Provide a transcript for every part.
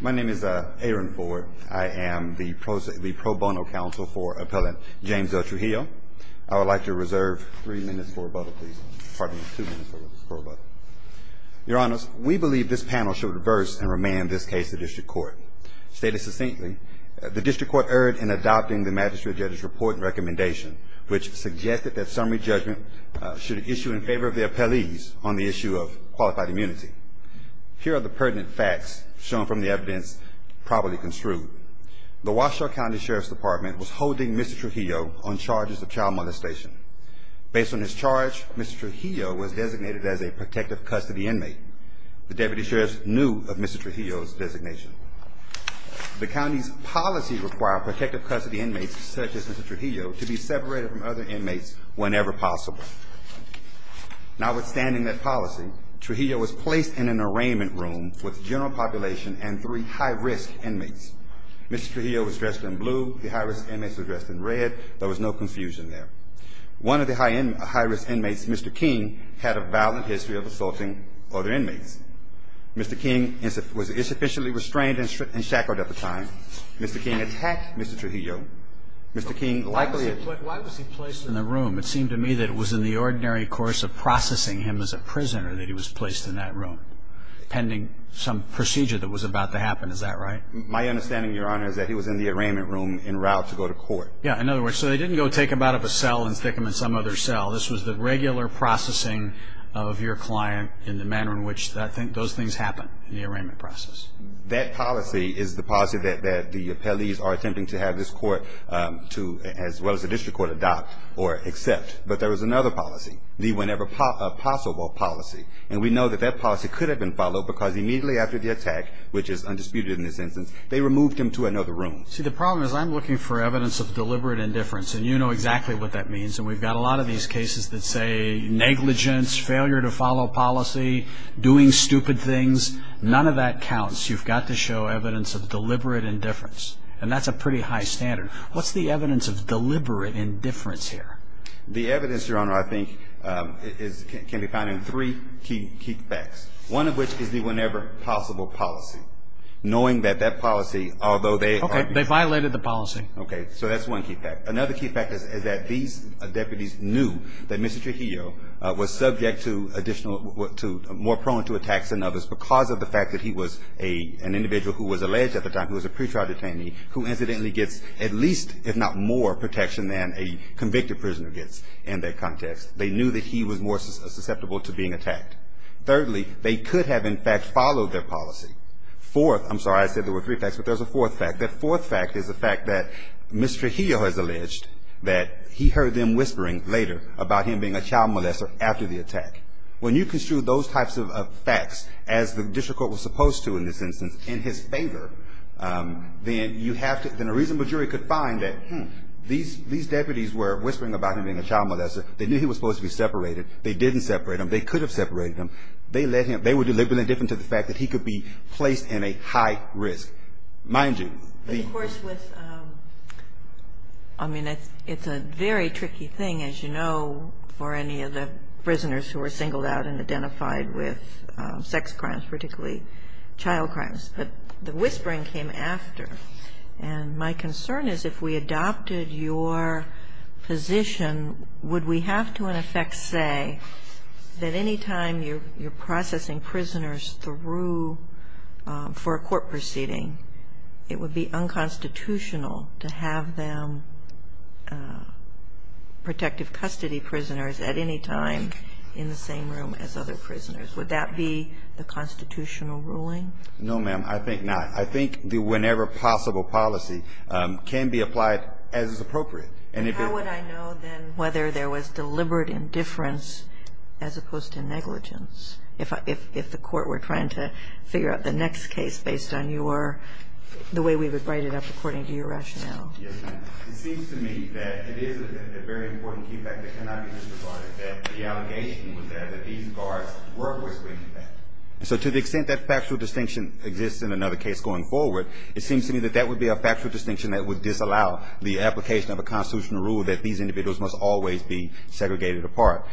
My name is Aaron Ford. I am the pro bono counsel for appellant James El Trujillo. I would like to reserve three minutes for rebuttal, please. Pardon me, two minutes for rebuttal. Your honors, we believe this panel should reverse and remand this case to district court. Stated succinctly, the district court erred in adopting the magistrate judge's report and recommendation, which suggested that summary judgment should issue in favor of the appellees on the issue of qualified immunity. Here are the pertinent facts shown from the evidence probably construed. The Washoe County Sheriff's Department was holding Mr. Trujillo on charges of child molestation. Based on his charge, Mr. Trujillo was designated as a protective custody inmate. The deputy sheriffs knew of Mr. Trujillo's designation. The county's policy required protective custody inmates, such as Mr. Trujillo, to be separated from other inmates whenever possible. Notwithstanding that policy, Trujillo was placed in an arraignment room with general population and three high-risk inmates. Mr. Trujillo was dressed in blue. The high-risk inmates were dressed in red. There was no confusion there. One of the high-risk inmates, Mr. King, had a violent history of assaulting other inmates. Mr. King was insufficiently restrained and shackled at the time. Mr. King attacked Mr. Trujillo. Mr. King likely had- Why was he placed in a room? It seemed to me that it was in the ordinary course of processing him as a prisoner that he was placed in that room, pending some procedure that was about to happen. Is that right? My understanding, Your Honor, is that he was in the arraignment room en route to go to court. Yeah, in other words, so they didn't go take him out of a cell and stick him in some other cell. This was the regular processing of your client in the manner in which those things happen in the arraignment process. That policy is the policy that the appellees are attempting to have this court, as well as the district court, adopt or accept. But there was another policy, the whenever possible policy. And we know that that policy could have been followed because immediately after the attack, which is undisputed in this instance, they removed him to another room. See, the problem is I'm looking for evidence of deliberate indifference. And you know exactly what that means. And we've got a lot of these cases that say negligence, failure to follow policy, doing stupid things. None of that counts. You've got to show evidence of deliberate indifference. And that's a pretty high standard. What's the evidence of deliberate indifference here? The evidence, Your Honor, I think can be found in three key facts, one of which is the whenever possible policy. Knowing that that policy, although they are OK, they violated the policy. OK, so that's one key fact. Another key fact is that these deputies knew that Mr. Trujillo was subject to additional, more prone to attacks than others because of the fact that he was an individual who was alleged at the time, who was a pre-trial detainee, who incidentally gets if not more protection than a convicted prisoner gets in that context. They knew that he was more susceptible to being attacked. Thirdly, they could have, in fact, followed their policy. Fourth, I'm sorry, I said there were three facts, but there's a fourth fact. That fourth fact is the fact that Mr. Trujillo has alleged that he heard them whispering later about him being a child molester after the attack. When you construe those types of facts as the district court was supposed to in this instance in his favor, then you have to, then a reasonable jury could find that, hmm, these deputies were whispering about him being a child molester. They knew he was supposed to be separated. They didn't separate him. They could have separated him. They let him, they were deliberately different to the fact that he could be placed in a high risk. Mind you, the- Of course, with, I mean, it's a very tricky thing, as you know, for any of the prisoners who were singled out and identified with sex crimes, particularly child crimes, but the whispering came after. And my concern is if we adopted your position, would we have to in effect say that anytime you're processing prisoners through for a court proceeding, it would be unconstitutional to have them protective custody prisoners at any time in the same room as other prisoners. Would that be the constitutional ruling? No, ma'am, I think not. I think the whenever possible policy can be applied as is appropriate. And if it- How would I know then whether there was deliberate indifference as opposed to negligence? If the court were trying to figure out the next case based on your, the way we would write it up according to your rationale. Yes, ma'am. It seems to me that it is a very important key fact that cannot be misrepresented, that the allegation was there that these guards were whispering that. So to the extent that factual distinction exists in another case going forward, it seems to me that that would be a factual distinction that would disallow the application of a constitutional rule that these individuals must always be segregated apart,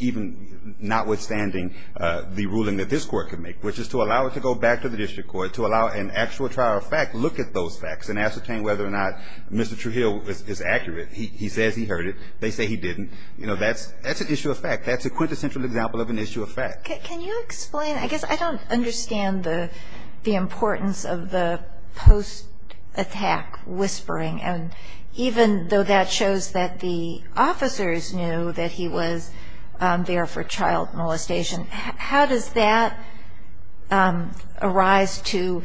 even notwithstanding the ruling that this court can make, which is to allow it to go back to the district court, to allow an actual trial of fact, look at those facts and ascertain whether or not Mr. Trujillo is accurate. He says he heard it. They say he didn't. You know, that's an issue of fact. That's a quintessential example of an issue of fact. Can you explain? I guess I don't understand the importance of the post-attack whispering. And even though that shows that the officers knew that he was there for child molestation, how does that arise to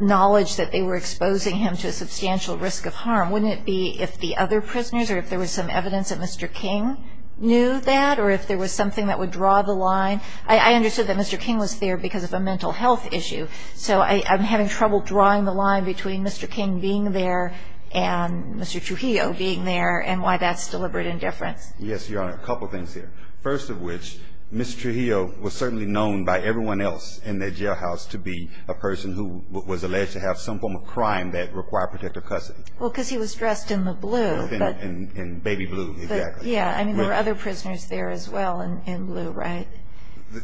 knowledge that they were exposing him to a substantial risk of harm? Wouldn't it be if the other prisoners or if there was some evidence that Mr. King knew that, or if there was something that would draw the line? I understood that Mr. King was there because of a mental health issue. So I'm having trouble drawing the line between Mr. King being there and Mr. Trujillo being there and why that's deliberate indifference. Yes, Your Honor, a couple of things here. First of which, Mr. Trujillo was certainly known by everyone else in the jailhouse to be a person who was alleged to have some form of crime that required protective custody. Well, because he was dressed in the blue. In baby blue, exactly. Yeah, I mean, there were other prisoners there as well in blue, right?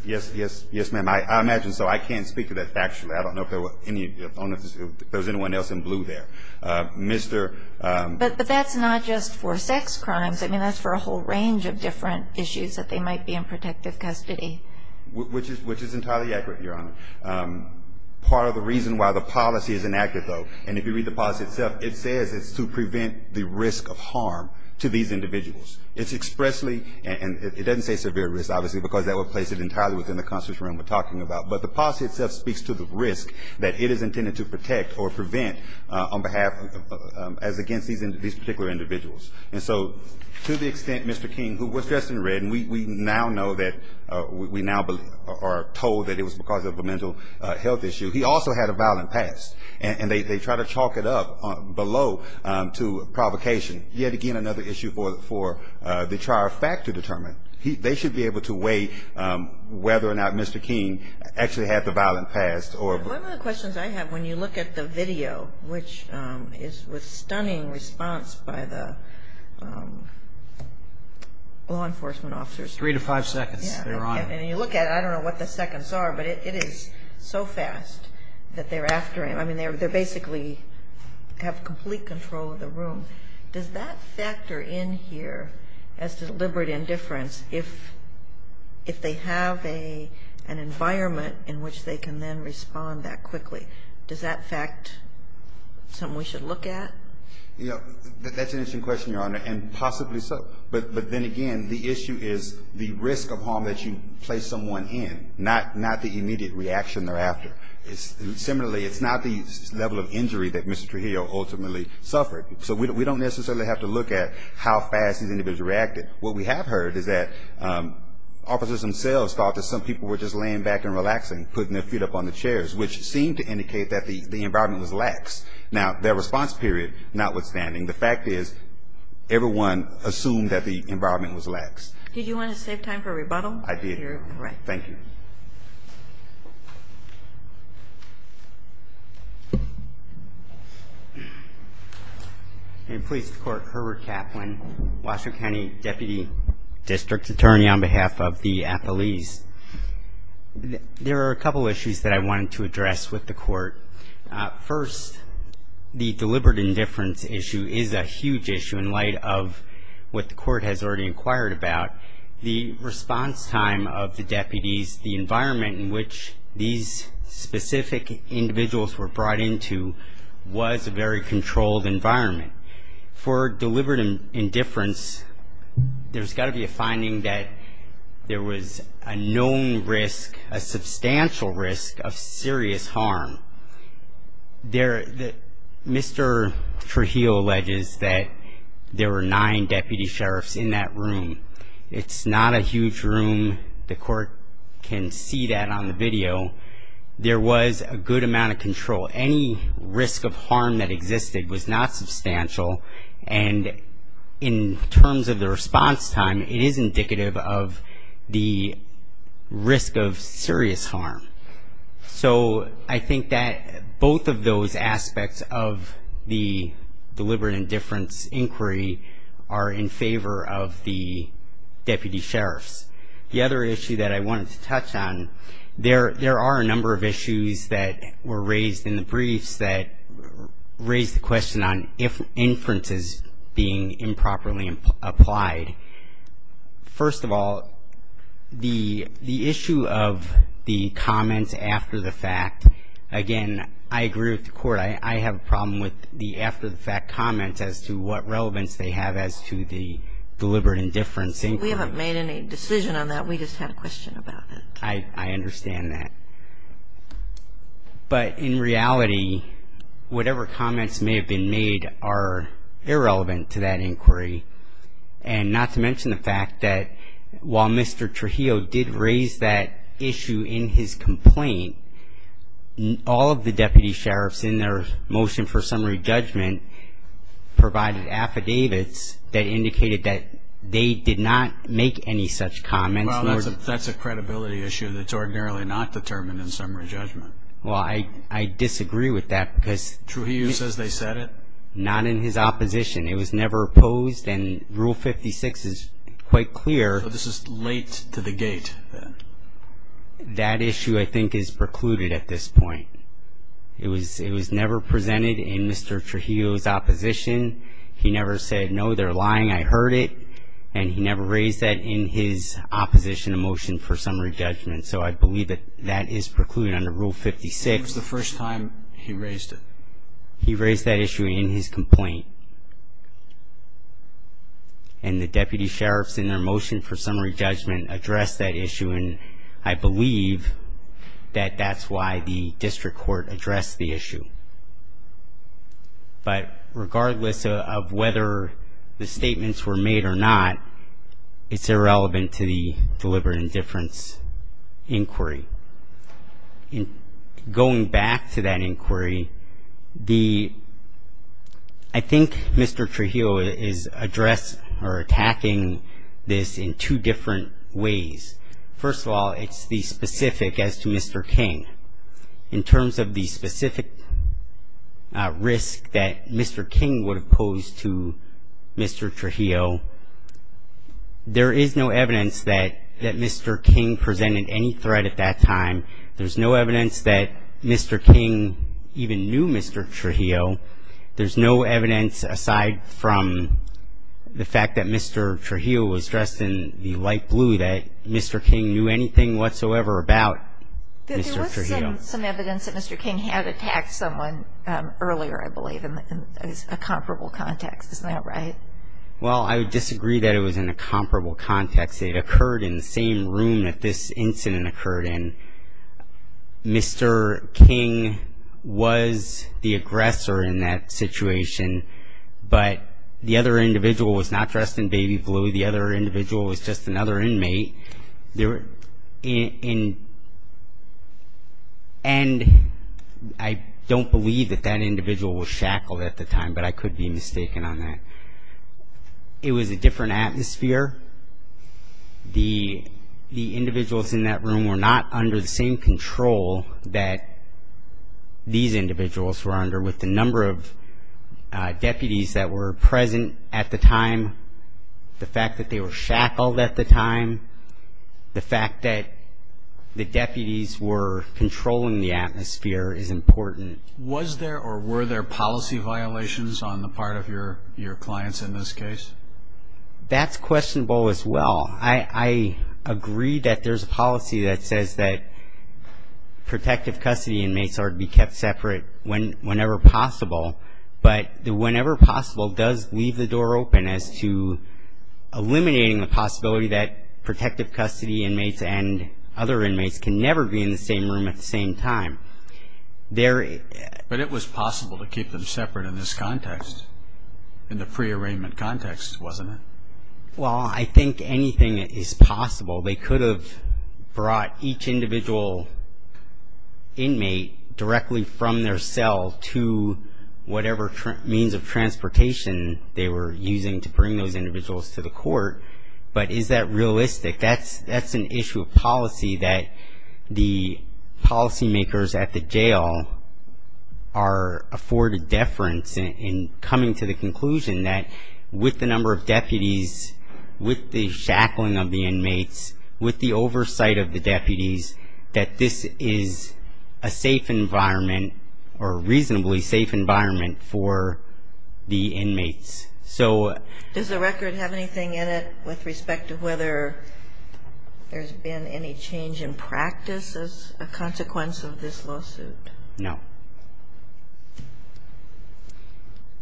Yes, yes, yes, ma'am. I imagine so. I can't speak to that factually. I don't know if there was anyone else in blue there. But that's not just for sex crimes. I mean, that's for a whole range of different issues that they might be in protective custody. Which is entirely accurate, Your Honor. Part of the reason why the policy is inactive, though, and if you read the policy itself, it says it's to prevent the risk of harm to these individuals. It's expressly, and it doesn't say severe risk, obviously, because that would place it entirely within the constitutional realm we're talking about. But the policy itself speaks to the risk that it is intended to protect or prevent on behalf, as against these particular individuals. And so, to the extent Mr. King, who was dressed in red, and we now know that, we now are told that it was because of a mental health issue, he also had a violent past. And they try to chalk it up below to provocation. Yet again, another issue for the trial fact to determine. They should be able to weigh whether or not Mr. King actually had the violent past, or. One of the questions I have, when you look at the video, which is with stunning response by the law enforcement officers. Three to five seconds, Your Honor. And you look at it, I don't know what the seconds are, but it is so fast that they're after him. I mean, they basically have complete control of the room. Does that factor in here, as deliberate indifference, if they have an environment in which they can then respond that quickly? Does that fact, something we should look at? Yeah, that's an interesting question, Your Honor. And possibly so. But then again, the issue is the risk of harm that you place someone in. Not the immediate reaction they're after. Similarly, it's not the level of injury that Mr. Trujillo ultimately suffered. So we don't necessarily have to look at how fast these individuals reacted. What we have heard is that officers themselves thought that some people were just laying back and relaxing, putting their feet up on the chairs, which seemed to indicate that the environment was lax. Now, their response period, notwithstanding, the fact is everyone assumed that the environment was lax. Did you want to save time for rebuttal? I did. Thank you. In police court, Herbert Kaplan, Washoe County Deputy District Attorney on behalf of the appellees. There are a couple issues that I wanted to address with the court. First, the deliberate indifference issue is a huge issue in light of what the court has already inquired about. The response time of the deputies, the environment in which these specific individuals were brought into was a very controlled environment. For deliberate indifference, there's got to be a finding that there was a known risk, a substantial risk of serious harm. Mr. Trujillo alleges that there were nine deputy sheriffs in that room. It's not a huge room. The court can see that on the video. There was a good amount of control. Any risk of harm that existed was not substantial. And in terms of the response time, it is indicative of the risk of serious harm. So I think that both of those aspects of the deliberate indifference inquiry are in favor of the deputy sheriffs. The other issue that I wanted to touch on, there are a number of issues that were raised in the briefs that raised the question on if inference is being improperly applied. First of all, the issue of the comments after the fact, again, I agree with the court. I have a problem with the after the fact comments as to what relevance they have as to the deliberate indifference inquiry. We haven't made any decision on that. We just had a question about that. I understand that. But in reality, whatever comments may have been made are irrelevant to that inquiry. And not to mention the fact that while Mr. Trujillo did raise that issue in his complaint, all of the deputy sheriffs in their motion for summary judgment provided affidavits that indicated that they did not make any such comments. That's a credibility issue that's ordinarily not determined in summary judgment. Well, I disagree with that because- Trujillo says they said it. Not in his opposition. It was never posed and rule 56 is quite clear. This is late to the gate. That issue I think is precluded at this point. It was never presented in Mr. Trujillo's opposition. He never said, no, they're lying, I heard it. And he never raised that in his opposition motion for summary judgment. So I believe that that is precluded under rule 56. It was the first time he raised it. He raised that issue in his complaint. And the deputy sheriffs in their motion for summary judgment addressed that issue. And I believe that that's why the district court addressed the issue. But regardless of whether the statements were made or not, it's irrelevant to the deliberate indifference inquiry. Going back to that inquiry, I think Mr. Trujillo is addressing or attacking this in two different ways. First of all, it's the specific as to Mr. King. In terms of the specific risk that Mr. King would have posed to Mr. Trujillo, there is no evidence that Mr. King presented any threat at that time. There's no evidence that Mr. King even knew Mr. Trujillo. There's no evidence aside from the fact that Mr. Trujillo was dressed in the light blue that Mr. King knew anything whatsoever about Mr. Trujillo. Some evidence that Mr. King had attacked someone earlier, I believe, in a comparable context. Isn't that right? Well, I would disagree that it was in a comparable context. It occurred in the same room that this incident occurred in. Mr. King was the aggressor in that situation, but the other individual was not dressed in baby blue. The other individual was just another inmate. And I don't believe that that individual was shackled at the time, but I could be mistaken on that. It was a different atmosphere. The individuals in that room were not under the same control that these individuals were under with the number of deputies that were present at the time, the fact that they were shackled at the time, the fact that the deputies were controlling the atmosphere is important. Was there or were there policy violations on the part of your clients in this case? That's questionable as well. I agree that there's a policy that says that protective custody inmates are to be kept separate whenever possible, but the whenever possible does leave the door open as to eliminating the possibility that protective custody inmates and other inmates can never be in the same room at the same time. But it was possible to keep them separate in this context, in the free arraignment context, wasn't it? Well, I think anything is possible. They could have brought each individual inmate directly from their cell to whatever means of transportation they were using to bring those individuals to the court, but is that realistic? That's an issue of policy that the policymakers at the jail are afforded deference in coming to the conclusion that with the number of deputies, with the shackling of the inmates, with the oversight of the deputies, that this is a safe environment or reasonably safe environment for the inmates. So does the record have anything in it with respect to whether there's been any change in practice as a consequence of this lawsuit? No.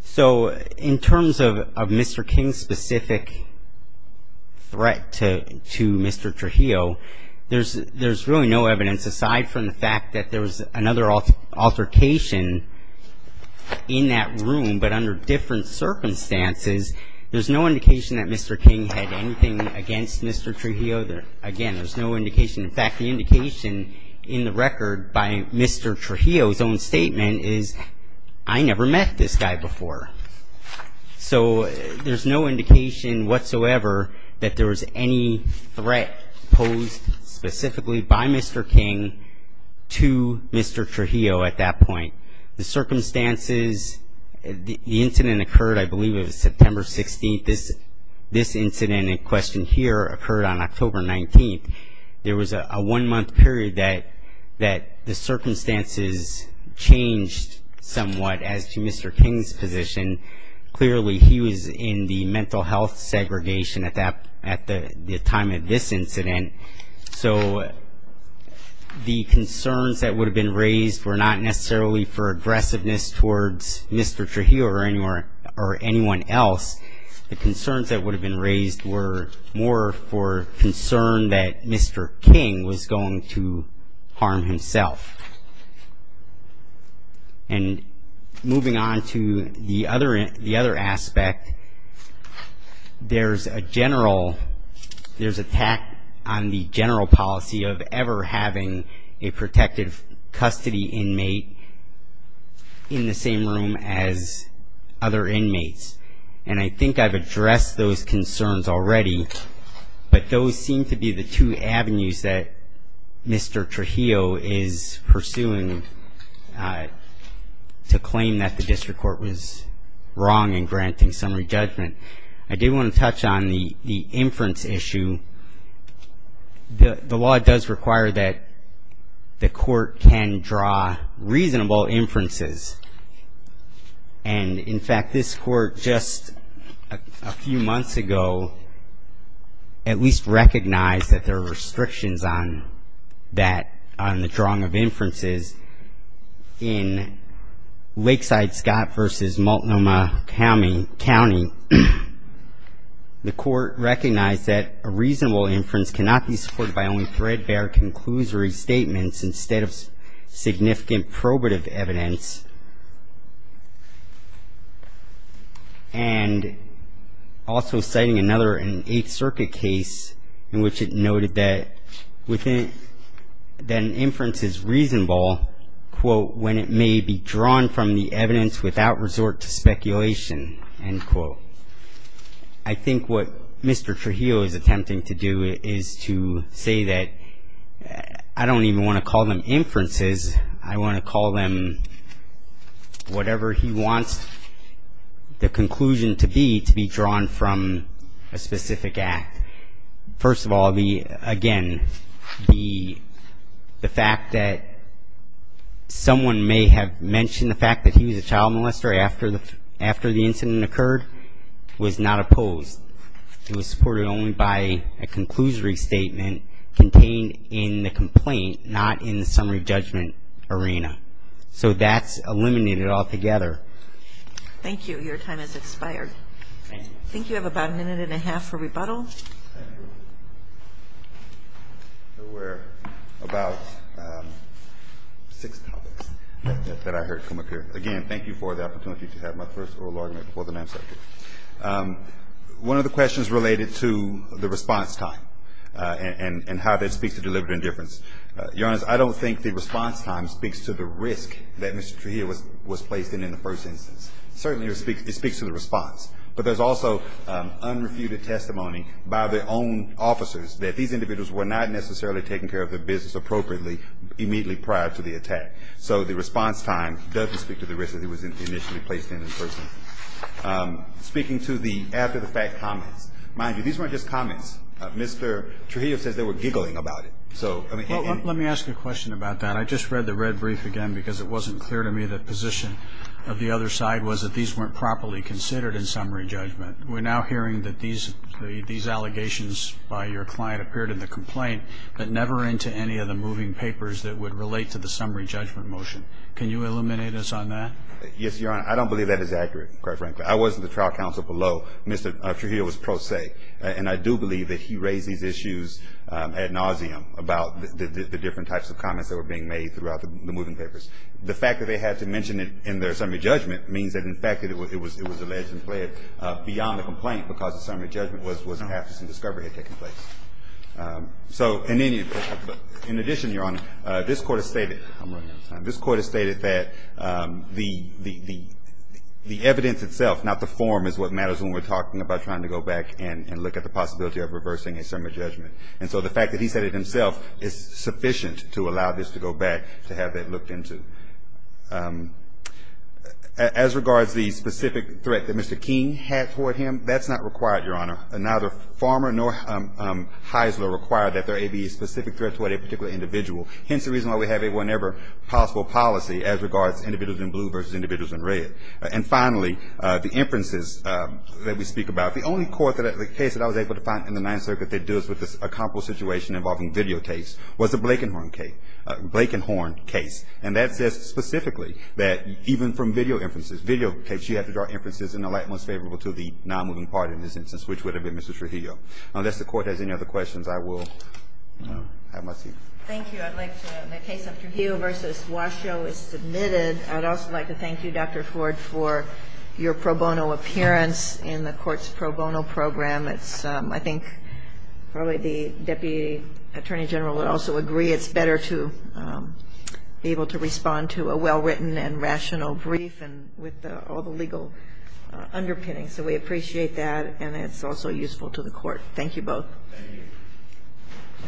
So in terms of Mr. King's specific threat to Mr. Trujillo, there's really no evidence aside from the fact that there was another altercation in that room, but under different circumstances, there's no indication that Mr. King had anything against Mr. Trujillo. Again, there's no indication. In fact, the indication in the record by Mr. Trujillo's own statement is, I never met this guy before. So there's no indication whatsoever that there was any threat posed specifically by Mr. King to Mr. Trujillo at that point. The circumstances, the incident occurred, I believe it was September 16th. This incident in question here occurred on October 19th. There was a one-month period that the circumstances changed somewhat as to Mr. King's position. Clearly, he was in the mental health segregation at the time of this incident. So the concerns that would have been raised were not necessarily for aggressiveness towards Mr. Trujillo or anyone else. The concerns that would have been raised were more for concern that Mr. King was going to harm himself. And moving on to the other aspect, there's a general, there's a tack on the general policy of ever having a protective custody inmate in the same room as other inmates. And I think I've addressed those concerns already, but those seem to be the two avenues that Mr. Trujillo is pursuing to claim that the district court was wrong in granting summary judgment. I do want to touch on the inference issue. The law does require that the court can draw reasonable inferences. And in fact, this court just a few months ago at least recognized that there were restrictions on that, on the drawing of inferences in Lakeside, Scott versus Multnomah County. The court recognized that a reasonable inference cannot be supported by only threadbare conclusory statements instead of significant probative evidence. And also citing another in Eighth Circuit case in which it noted that an inference is reasonable quote, when it may be drawn from the evidence without resort to speculation, end quote. I think what Mr. Trujillo is attempting to do is to say that I don't even want to call them inferences. I want to call them whatever he wants the conclusion to be to be drawn from a specific act. First of all, again, the fact that someone may have mentioned the fact that he was a child molester after the incident occurred was not opposed. It was supported only by a conclusory statement contained in the complaint, not in the summary judgment arena. So that's eliminated altogether. Thank you, your time has expired. Thank you. I think you have about a minute and a half for rebuttal. Thank you. There were about six topics that I heard come up here. Again, thank you for the opportunity to have my first oral argument before the Ninth Circuit. One of the questions related to the response time and how that speaks to deliberate indifference. Your Honor, I don't think the response time speaks to the risk that Mr. Trujillo was placed in in the first instance. Certainly it speaks to the response, but there's also unrefuted testimony by their own officers that these individuals were not necessarily taking care of their business appropriately immediately prior to the attack. So the response time doesn't speak to the risk that he was initially placed in in person. Speaking to the after the fact comments, mind you, these weren't just comments. Mr. Trujillo says they were giggling about it. So, I mean. Let me ask you a question about that. I just read the red brief again because it wasn't clear to me the position of the other side was that these weren't properly considered in summary judgment. We're now hearing that these allegations by your client appeared in the complaint, but never into any of the moving papers that would relate to the summary judgment motion. Can you eliminate us on that? Yes, Your Honor. I don't believe that is accurate, quite frankly. I was in the trial counsel below. Mr. Trujillo was pro se. And I do believe that he raised these issues ad nauseam about the different types of comments that were being made throughout the moving papers. The fact that they had to mention it in their summary judgment means that, in fact, it was alleged and pled beyond the complaint because the summary judgment was after some discovery had taken place. So, in any, in addition, Your Honor, this Court has stated, I'm running out of time, this Court has stated that the evidence itself, not the form, is what matters when we're talking about trying to go back and look at the possibility of reversing a summary judgment. And so the fact that he said it himself is sufficient to allow this to go back to have that looked into. As regards the specific threat that Mr. King had toward him, that's not required, Your Honor. Neither Farmer nor Heisler required that there be a specific threat toward a particular individual. Hence, the reason why we have a whenever possible policy as regards individuals in blue versus individuals in red. And finally, the inferences that we speak about. The only court that, the case that I was able to find in the Ninth Circuit that deals with this accomplished situation involving videotapes was the Blakenhorn case. Blakenhorn case. And that says specifically that even from video inferences, video case, you have to draw inferences in the light most favorable to the non-moving party in this instance, which would have been Mr. Trujillo. Unless the Court has any other questions, I will have my seat. Thank you. I'd like to, the case of Trujillo versus Washoe is submitted. I'd also like to thank you, Dr. Ford, for your pro bono appearance in the Court's pro bono program. It's, I think, probably the Deputy Attorney General would also agree. It's better to be able to respond to a well-written and rational brief and with all the legal underpinnings. So we appreciate that. And it's also useful to the Court. Thank you both. Thank you.